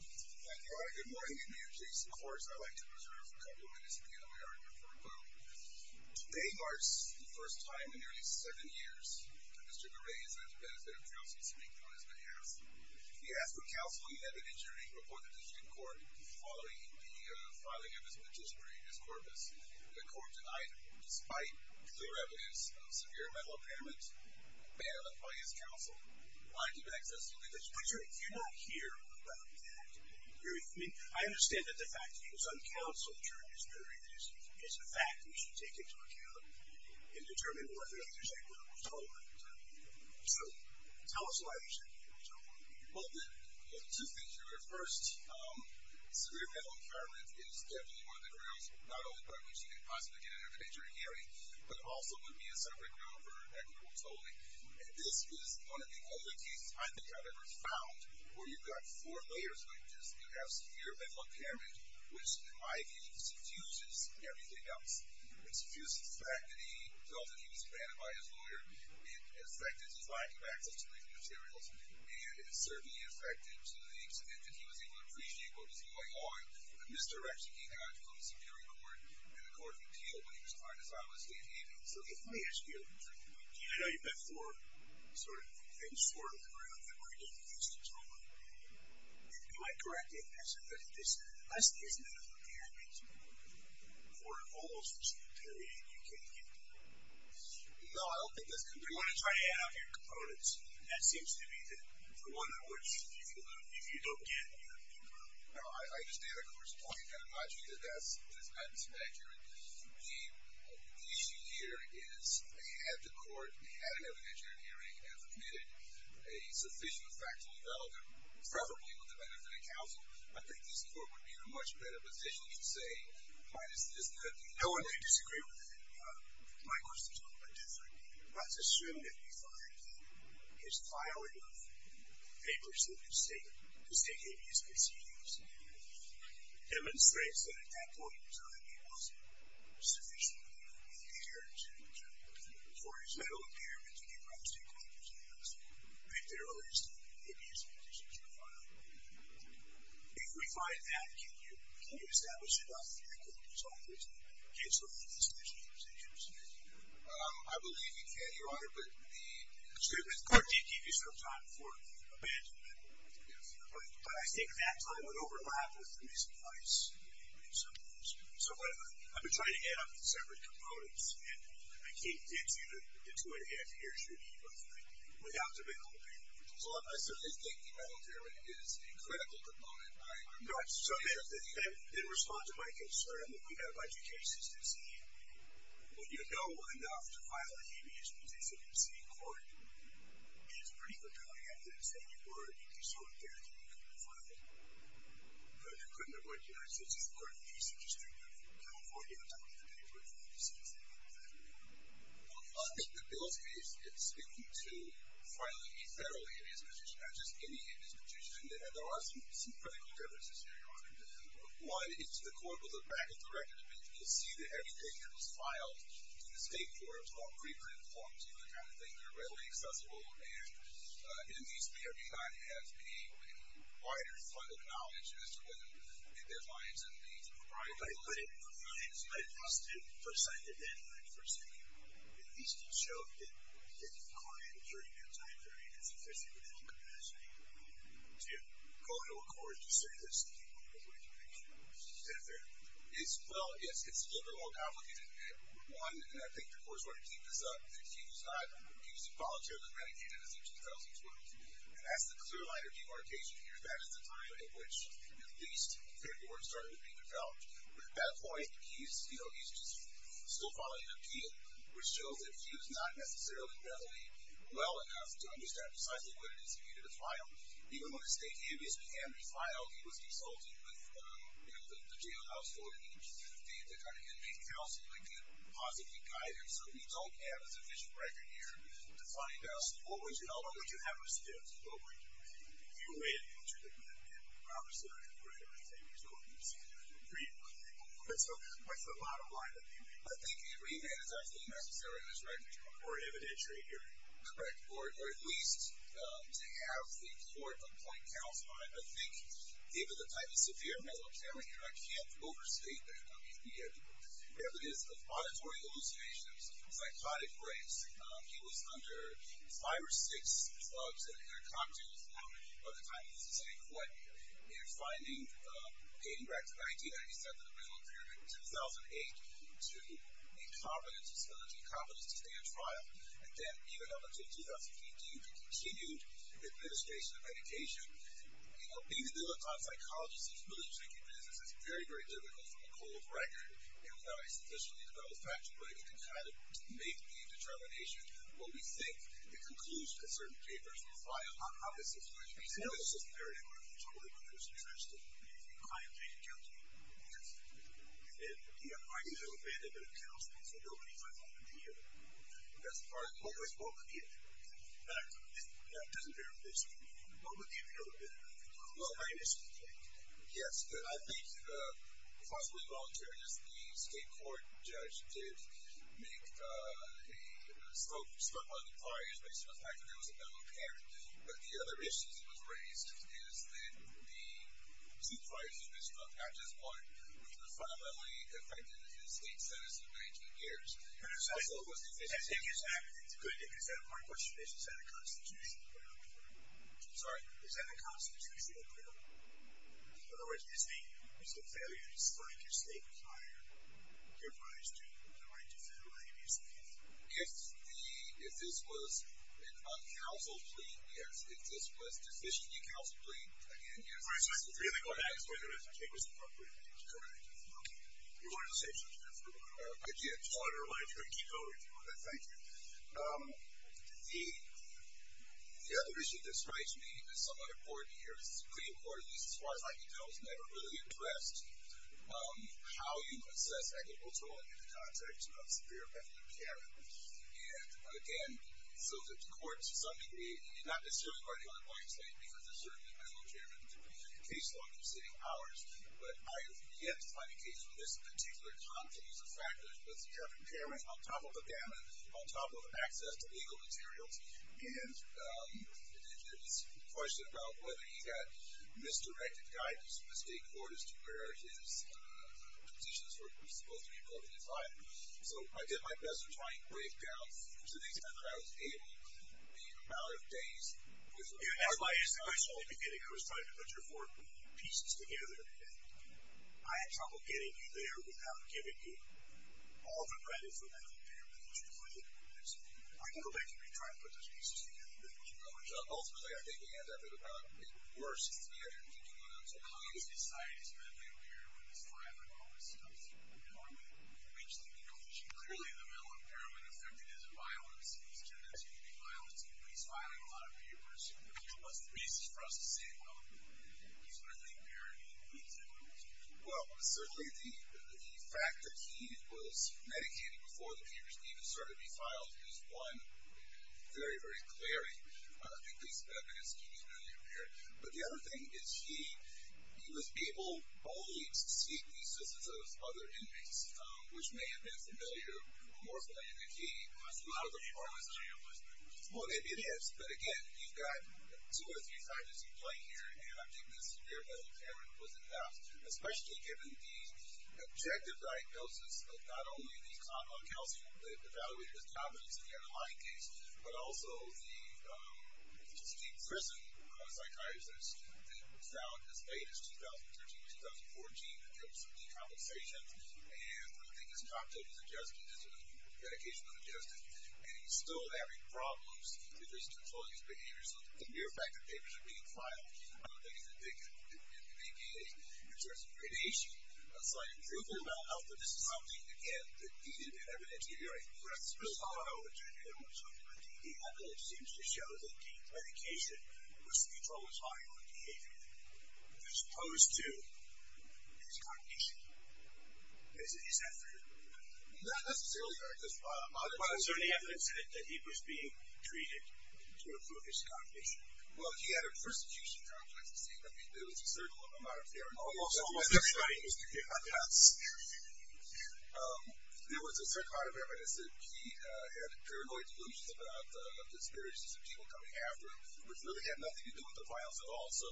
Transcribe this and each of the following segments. Thank you all. Good morning. I am Jason Kors. I would like to reserve a couple of minutes to begin my argument for a clue. Today marks the first time in nearly seven years that Mr. Geray has had the benefit of counsel speaking on his behalf. He asked for counsel. He had an injury reported to the court following the filing of his magistrate, his corpus. The court denied him, despite clear evidence of severe mental impairment managed by his counsel. I give access to evidence. Mr. Geray, you're not here about that. I understand that the fact that he was uncounseled during this period is a fact we should take into account and determine whether or not there's equitable tolling. So, tell us why there should be equitable tolling. Well, there are two things here. First, severe mental impairment is definitely one of the grounds not only for which you could possibly get an evidentiary hearing, but also would be a separate gun for equitable tolling. And this is one of the only cases I think I've ever found where you've got four layers, which is you have severe mental impairment, which, in my view, subdues everything else. It subdues the fact that he felt that he was abandoned by his lawyer. It affected his lack of access to legal materials. And it certainly affected the extent that he was able to appreciate what was going on, the misdirection he had from the Superior Court and the Court of Appeal when he was trying to file his state hearing. Okay, so let me ask you a trick question. I know you've met four sort of things before in the room that we're going to get into in just a moment. If you might correct me if I said that this lesson isn't enough for parents or for almost each period you can get to know? No, I don't think that's true. We want to try to add up your components. And that seems to me to be the one in which you feel that if you don't get, you don't learn. No, I just did a course talking kind of logically to this, but it's not as accurate. The issue here is, had the court had an evidentiary hearing and admitted a sufficient factual development, preferably with the benefit of counsel, I think this court would be in a much better position to say, why does this happen? No one can disagree with that. My question's a little bit different. Let's assume that you find that his filing of papers in the state case conceded demonstrates that at that point in time he was sufficiently prepared to for his mental impairment to be brought to a court because he has picked the earliest and easiest position to file. If we find that, can you establish it on the record as long as the case will be in the statute of limitations? I believe you can, Your Honor, but the court did give you some time for amendment. But I think that time would overlap with the missing place in some ways. So I've been trying to add up the separate components, and I can't get you the two-and-a-half years you need without the mental impairment. Well, I certainly think the mental impairment is a critical component. No, I'm just saying that in response to my concern that we have a bunch of cases to see, when you know enough to file a habeas position in the state court, it's pretty compelling evidence that you were, if you saw it there, that you could file it. But you couldn't avoid hearing it, so it's just part of the piece that you should be looking for. You don't have to look at the paperwork for that. You see the same thing with that. Well, I think the bill is speaking to filing a federal habeas position, not just any habeas position, and there are some critical differences here, Your Honor. One is the court will look back at the record eventually and see that everything that was filed in the state court in terms of all preprint forms, you know, the kind of things that are readily accessible, and it at least may or may not have a wider fund of knowledge as to whether there's lines in these. Right. But it must have presented an adversity. At least it showed that the client, during that time period, had sufficient mental capacity to go to a court to say this is the case. Is that fair? Well, yes, it's a little more complicated than that. One, and I think the court is going to keep this up, is that he was involuntarily renegaded as of 2012, and that's the clear line of demarcation here. That is the time at which at least paperwork started to be developed. But at that point, he's still following an appeal, which shows that he was not necessarily readily well enough to understand precisely what it is he needed to file. Even though the state habeas can be filed, he was consulted with the jailhouse board and each state that got an inmate counseled, they could positively guide him. So we don't have a sufficient record here to find out what would you have us do? If you made an interdictment, then obviously the court would say, we totally disagree with you. That's the bottom line of the appeal. I think a remand is actually necessary in this record. Or an evidentiary hearing. Correct. Or at least to have the court appoint counsel on it. I think given the type of severe mental impairment here, I can't overstate the evidence of auditory hallucinations, psychotic rates. He was under five or six drugs and intercoctin. By the time he was in state court, they were finding radioactive ID that he sent to the mental impairment in 2008 to make confidence, his ability to make confidence to stay on trial. And then even up until 2015, the continued administration of medication. You know, being the middle-class psychologist who's really taking business is very, very difficult from a cold record. And without a sufficiently developed factual record to kind of make the determination of what we think the conclusion of certain papers will file, how is this going to be settled? It's just very difficult, totally, but there's a chance to be client-made guilty. Yes. And, you know, I do have a band-aid that accounts for this. I go many times over the year. That's part of it. That doesn't bear witness to me. What would the appeal have been? Yes. I think, possibly voluntarily, the state court judge did make a... spoke on the fires based on the fact that there was a mental impairment. But the other issue that was raised is that the two fires that had been struck at this point were fundamentally affected the state sentence of 19 years. And it's also... I think it's a good... Is that a constitutional crime? Sorry? Is that a constitutional crime? In other words, is the failure to strike your state fire your prize to the right to file an abuse case? If the... If this was a counsel plea, yes. If this was a decision-making counsel plea, again, yes. All right, so I could really go back to where the rest of the tape was appropriate. Correct. You wanted to say something else? I did. I wanted to remind you to keep going. Thank you. The other issue that strikes me as somewhat important here, it's pretty important, at least as far as I can tell, is never really addressed, how you assess equitable tolling in the context of severe mental impairment. And, again, so that the court, to some degree, not necessarily by the other points made, because there's certainly mental impairment in the case law in the preceding hours, but I have yet to find a case where there's a particular confluence of factors with severe impairment on top of abandonment, on top of access to legal materials, and there's this question about whether he got misdirected guidance from the state court as to where his positions were supposed to be broken in five. So I did my best to try and break down to the extent that I was able the amount of days... As I was saying at the beginning, I was trying to put your four pieces together, and I had trouble getting you there without giving you all the credit for mental impairment that you put in. I can go back and retry and put those pieces together and then keep going. Ultimately, I think he ended up at about eight or worse together, thinking about how he was decided to mentally repair with his time and all this stuff, and how he would reach the conclusion clearly that mental impairment affected his violence, his tendency to commit violence, he was filing a lot of papers. What's the basis for us to say, well, he's mentally impaired and he needs help? Well, certainly the fact that he was medicated before the papers needed to be filed is one very, very clearly. I don't think these evidence can be mentally impaired, but the other thing is he was able only to seek the assistance of other inmates, which may have been more familiar, more familiar than he, but a lot of the part of this... Well, maybe it is, but again, you've got two or three times you've played here and I think the severe mental impairment wasn't enough, especially given the objective diagnosis of not only the evaluated as competence in the underlying case, but also the prison psychiatrist that found as late as 2013 or 2014 that there was some decompensation and one of the things Dr. was suggesting is that the medication was adjusted, and he's still having problems because he's controlling his behavior so the mere fact that papers are being filed I don't think is indicative of an APA. In terms of predation, a slight improvement in mental health, but this is something, again, that needed to be evidenced. The evidence seems to show that the medication was controlled as following behavior as opposed to his cognition. Is that true? Not necessarily. But is there any evidence that he was being treated to improve his cognition? Well, he had a persecution complex to say that there was a certain amount of paranoia. There was a certain amount of evidence that he had paranoid delusions about the disparities of people coming after him, which really had nothing to do with the violence at all, so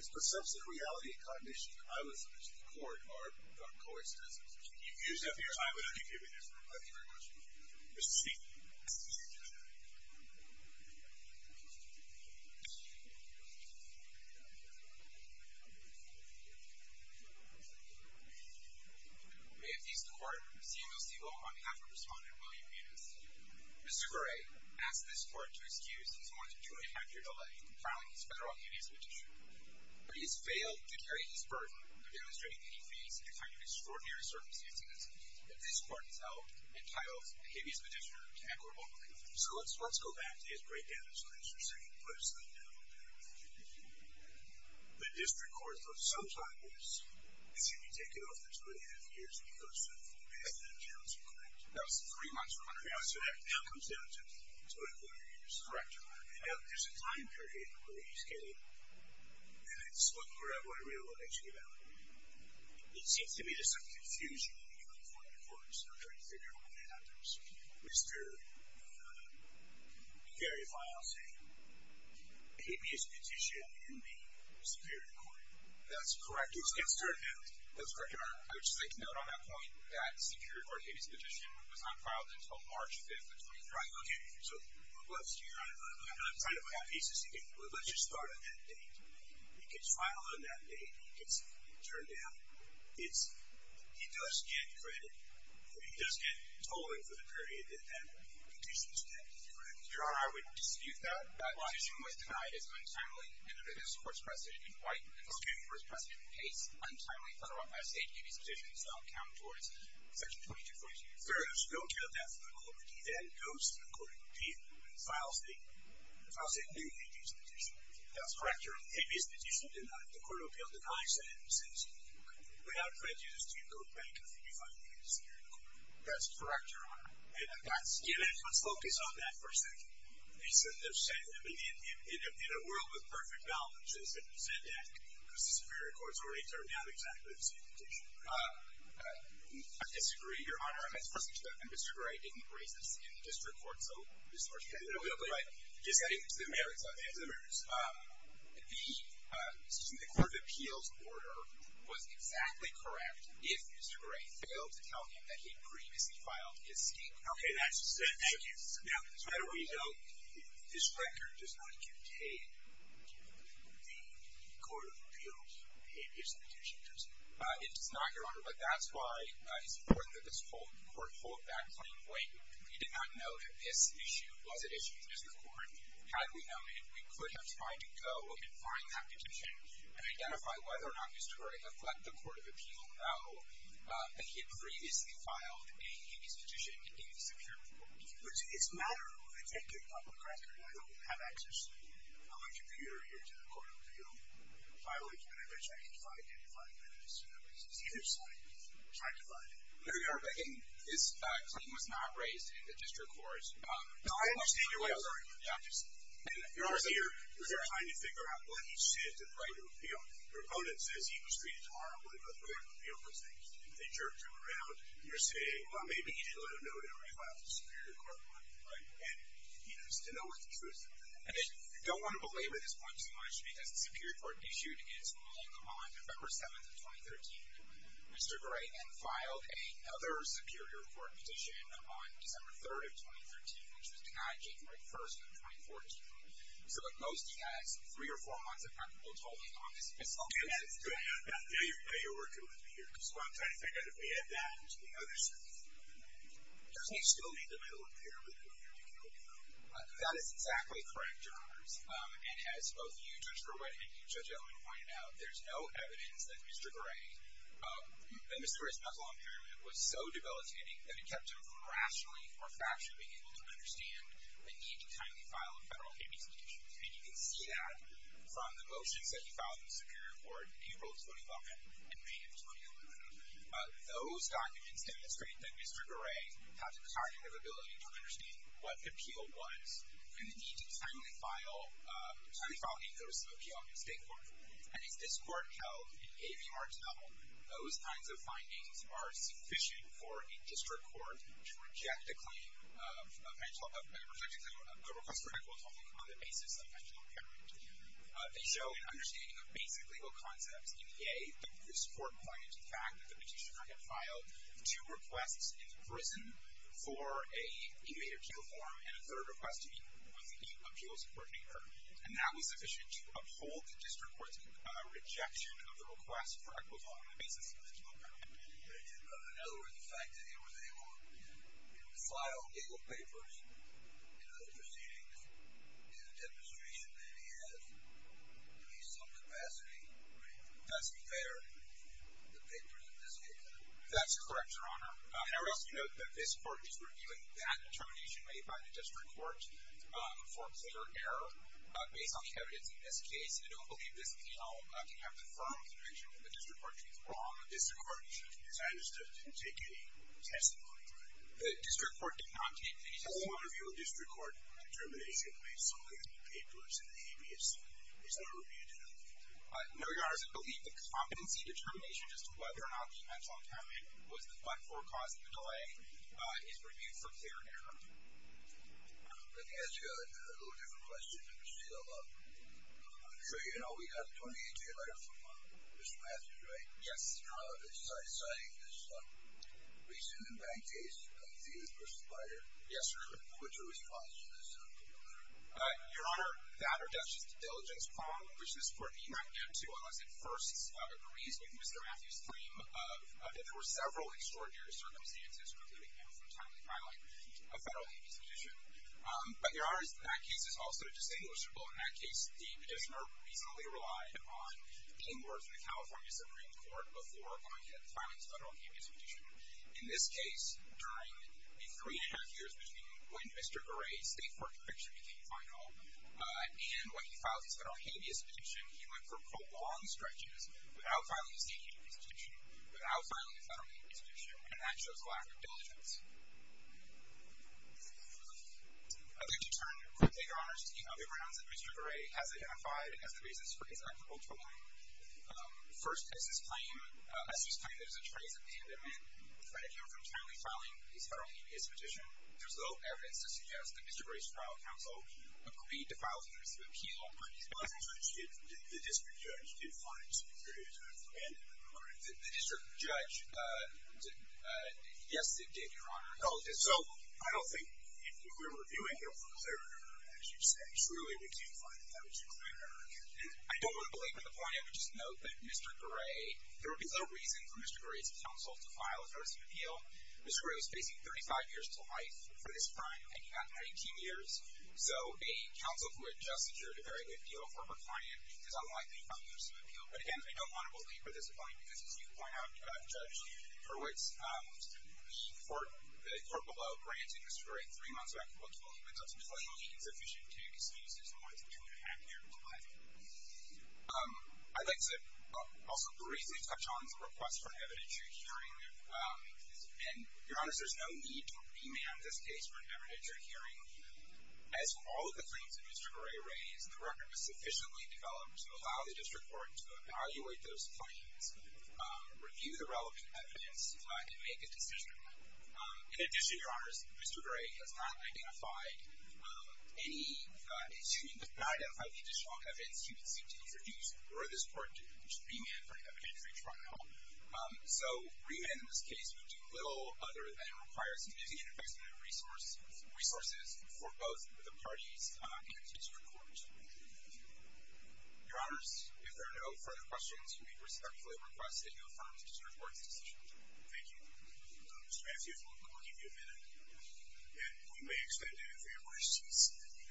his perception of reality and cognition, I would suggest to the court, are not coincidental. Thank you for your time with us. Thank you very much. May it please the Court, CMLC Law on behalf of Respondent William Yunus. Mr. Correa asks this Court to excuse his more than two and a half year delay in compiling his bail to carry his burden of demonstrating that he faced a kind of extraordinary circumstances. If this Court is held entitled to habeas petitioner equitable. So let's go back to his breakdown as to what you were saying. The District Court, though, sometimes is going to be taking off the two and a half years that he goes through as an accountant. That was three months ago. So that now comes down to two and a quarter years. Correct. Now, there's a time period where he's getting three and a half minutes looking at what it really looks like to be valid. It seems to me there's some confusion between the two and a quarter years. I'm trying to figure out what that happens. Mr. Correa files a habeas petition in the Superior Court. That's correct. Let's get started. That's correct, Your Honor. I would just like to note on that point that the Superior Court habeas petition was not filed until March 5th of 2013. Right, okay. So we're left here on a kind of final on that date. It gets final on that date. It gets turned down. It's, he does get credit. I mean, he does get tolling for the period that that petition was tabbed. Is that correct? Your Honor, I would dispute that. That petition was denied as of untimely in the Superior Court's proceeding. Why? The Superior Court's proceeding takes untimely federal habeas petition. So I'll count towards Section 2242. Fair enough. So don't count that for the Court of Appeals. That goes to the Court of Appeals. Files the new habeas petition. That's correct, Your Honor. Habeas petition denied. The Court of Appeals denies that. Okay. Without prejudice, do you go back and re-file the habeas petition? That's correct, Your Honor. Let's focus on that for a second. In a world with perfect balance, is it sad to ask? Because the Superior Court's already turned down exactly the same petition. I disagree, Your Honor. Mr. Gray didn't raise this in the District Court, so Mr. Archibald, just getting to the merits of it. The Court of Appeals order was exactly correct if Mr. Gray failed to tell him that he'd previously filed his statement. Okay, that's good. Thank you. Now, as far as we know, this record does not contain the Court of Appeals habeas petition, does it? It does not, Your Honor, but that's why it's important that this Court hold that claim when we did not know that this issue was an issue in the District Court. Had we known it, we could have tried to go and find that petition and identify whether or not Mr. Gray had let the Court of Appeal know that he had previously filed a habeas petition in the Superior Court. But it's matter of, I take it, public record, and I don't have access to my computer here to the Court of Appeal file it, and I bet you I can try to identify it by the District Court. It's either side. I'll try to find it. No, Your Honor, but again, this claim was not raised in the District Court. No, I understand your point, I'm sorry. Your Honor, so you're trying to figure out what he said to the right of appeal. The proponent says he was treated horribly, but the Court of Appeal was, they jerked him around, and you're saying well, maybe he didn't let them know that he already filed the Superior Court one, right? He needs to know what the truth of it is. I don't want to belabor this point too much because the Superior Court issued its ruling on November 7th of 2013. Mr. Gray then filed another Superior Court petition on December 3rd of 2013 which was denied January 1st of 2014. So look, most of you guys three or four months have not been able to hold me on this official case. Yeah, you're working with me here. So I'm trying to figure out if we add that to the other sections of the ruling. Doesn't he still need to be able to appear with whom you're dictating the ruling? That is exactly correct, Your Honors, and as both you, Judge Rowett, and you, Judge Ellman, pointed out, there's no evidence that Mr. Gray, that Mr. Gray's mental impairment was so debilitating that it kept him from rationally or factually being able to understand the need to timely file a federal habeas petition. And you can see that from the motions that he filed in the Superior Court April of 2011 and May of 2011. Those documents demonstrate that Mr. Gray had the cognitive ability to understand what appeal was and the need to timely file a notice of appeal in the State Court. And as this Court held in A.V. Martel, those kinds of findings are sufficient for a district court to reject the claim of mental... a request for medical atonement on the basis of mental impairment. They show an understanding of basic legal concepts in EA. This Court pointed to the fact that the petitioner had filed two requests in prison for a immediate appeal form and a third request to meet with the appeals coordinator. And that was sufficient to uphold the district court's rejection of the request for equitable atonement on the basis of mental impairment. In other words, the fact that he was able to file legal papers and other proceedings is a demonstration that he has at least some capacity to best fare the papers in this case. That's correct, Your Honor. Harris, you note that this Court is reviewing that determination made by clear error based on the evidence in this case, and I don't believe this penal can have the firm conviction of the district court to be wrong. The district court decided to take a testimony to that. The district court did not take any testimony. How do you want to review a district court determination made solely on the papers in the A.V.S.? Is that a review to that? No, Your Honor. I believe the competency determination as to whether or not the mental impairment was the cause of the delay is reviewed for clear error. Let me ask you a little different question. I'm sure you know we got a 28-day letter from Mr. Matthews, right? Yes. Citing this recent impact case of the person fired. Yes, sir. What's your response to this? Your Honor, that or that's just a diligence problem, which this Court did not get to unless it first agrees with Mr. Matthews' claim that there were several extraordinary circumstances precluding him from timely filing a federal A.V.S. petition. But, Your Honor, that case is also distinguishable. In that case, the petitioner reasonably relied on being worked in the California Supreme Court before going in and filing his federal A.V.S. petition. In this case, during the three and a half years between when Mr. Gray's state court conviction became final and when he filed his federal A.V.S. petition, he went for prolonged stretches without filing his state A.V.S. petition, without filing his federal A.V.S. petition, and that shows lack of diligence. I'd like to turn quickly, Your Honor, to the other grounds that Mr. Gray has identified as the reasons for his act of ultramarine. First, as his claim, as his claim, there's a trace of pandemon preventing him from timely filing his federal A.V.S. petition. There's little evidence to suggest that Mr. Gray's trial counsel on his behalf. The district judge did file an interstitial appeal to ban him from filing his federal A.V.S. petition. The district judge, uh, yes, it did, Your Honor. So, I don't think, if we're reviewing it for clarity, as you say, surely we can't find it that much clearer. I don't want to belabor the point. I would just note that Mr. Gray, there would be little reason for Mr. Gray's counsel to file an interstitial appeal. Mr. Gray was facing 35 years to life for this crime, hanging on to 18 years. So, a counsel who had just endured a very good deal of corporate finance is unlikely to file an interstitial appeal. But again, I don't want to belabor this point because, as you point out, Judge Hurwitz, um, the court below granted Mr. Gray three months back to file an interstitial appeal. It's sufficient to excuse his more than two and a half years to life. Um, I'd like to also briefly touch on the request for an evidentiary hearing. Um, and Your Honor, there's no need to remand this case for an evidentiary hearing. As for all of the claims that Mr. Gray has raised, the record was sufficiently developed to allow the district court to evaluate those claims, review the relevant evidence, and make a decision. In addition, Your Honors, Mr. Gray has not identified any uh, excuse me, has not identified the additional evidence he would seek to introduce for this court to remand for an evidentiary trial. Um, so remand in this case would do little other than require significant investment of resources for both the parties, uh, and the district court. Your Honors, if there are no further questions, we respectfully request that you affirm the district court's decision. Thank you. Mr. Matthews, we'll give you a minute and we may extend any further questions.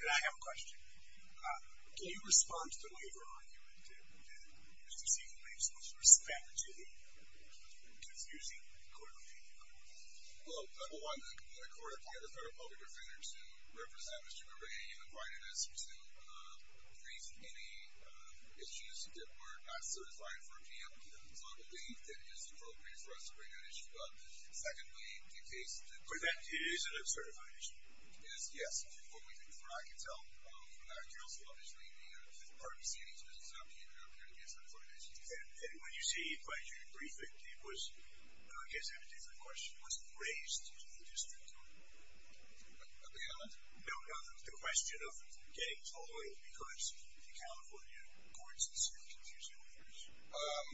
And I have a question. Uh, can you respond to the waiver argument that Mr. Siegel made so as to respect to the confusing clarification? Well, number one, the court appointed the Federal Public Defenders to represent Mr. Gray in the quietness to uh, brief any issues that were not certified for a PMP. So I believe that it is appropriate for us to bring that issue up. Secondly, in case that... But that is an uncertified issue. Yes. What we can, what I can tell from that, you're also obviously a part of the city, so it does not mean that it would appear to be an uncertified issue. And when you see, when you brief it, it was I guess it was a different question. It wasn't raised in the district court. Okay, go ahead. No, no, the question of getting told because the California Courts is confusing. Um,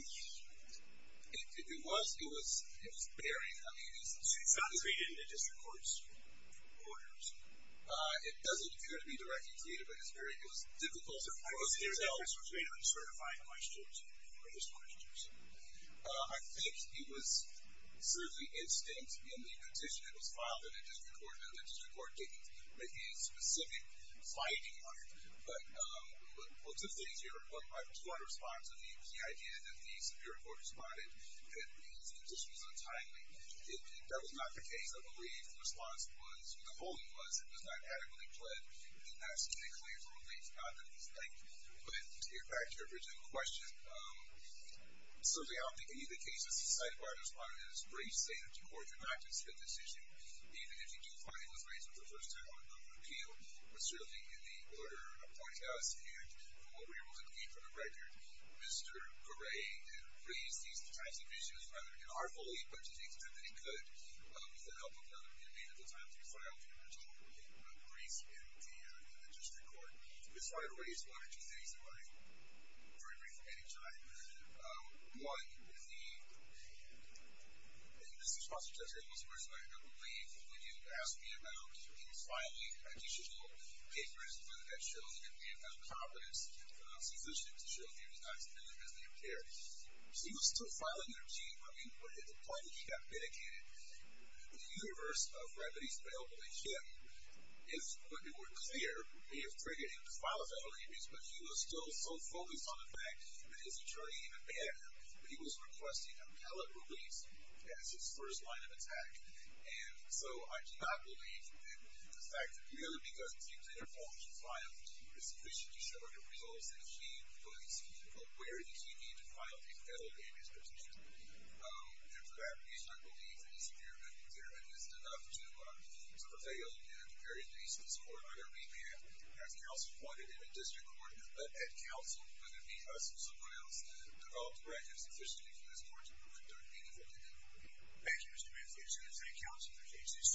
it, it was, it was, it was very, I mean, it's... It's not treated in the district court's orders. Uh, it doesn't appear to be directly treated, but it's very, it was difficult to... I was here to tell if it was made of uncertified questions or just questions. Um, I think it was certainly instinct in the petition that was filed in the district court, that the district court did make a specific finding on it. But, um, well, two things here. One, I just want to respond to the idea that the Superior Court responded that the petition was untimely. It, that was not the case. I believe the response was, the holding was it was not adequately pled and that's to make clear the release, not that it's like put it back to your original question. Um, certainly, I don't think any of the cases cited by our respondent is grace-safe to court to not just hit this issue, even if you do find it was raised for the first time on appeal, but certainly in the order appointed to us. And from what we were able to glean from the record, Mr. Gray had raised these types of issues, rather in our belief, but to the extent that he could, with the help of another individual. Those aren't three files, and they're totally grace in the, uh, in the district court. Ms. Rider raised one or two things that I agree with any time. Um, one is the response to Judge Abel's first argument, I believe was when you asked me about him filing additional papers that showed that he had no confidence in his position to show that he was not as dependent as they appear. He was still filing their case, I mean, but at the point that he got vindicated, the universe of remedies available to him, if, but they were clear, may have triggered him but he was still so focused on the fact that his attorney even banned him when he was requesting an appellate release as his first line of attack. And so, I do not believe that the fact that, really, because he didn't want to file sufficiently several different results, that he was aware that he needed to file a failed amnesty petition. Um, and for that reason, I believe that his impairment, his impairment is enough to, uh, to prevail, at the very least, in this court, under remand. As counsel pointed in the district court, let Ed Council, whether it be us or someone else, develop the right and sufficiency in this court to prevent their meaningful denial. Thank you, Mr. Manzano. This is Ed Council for KCC.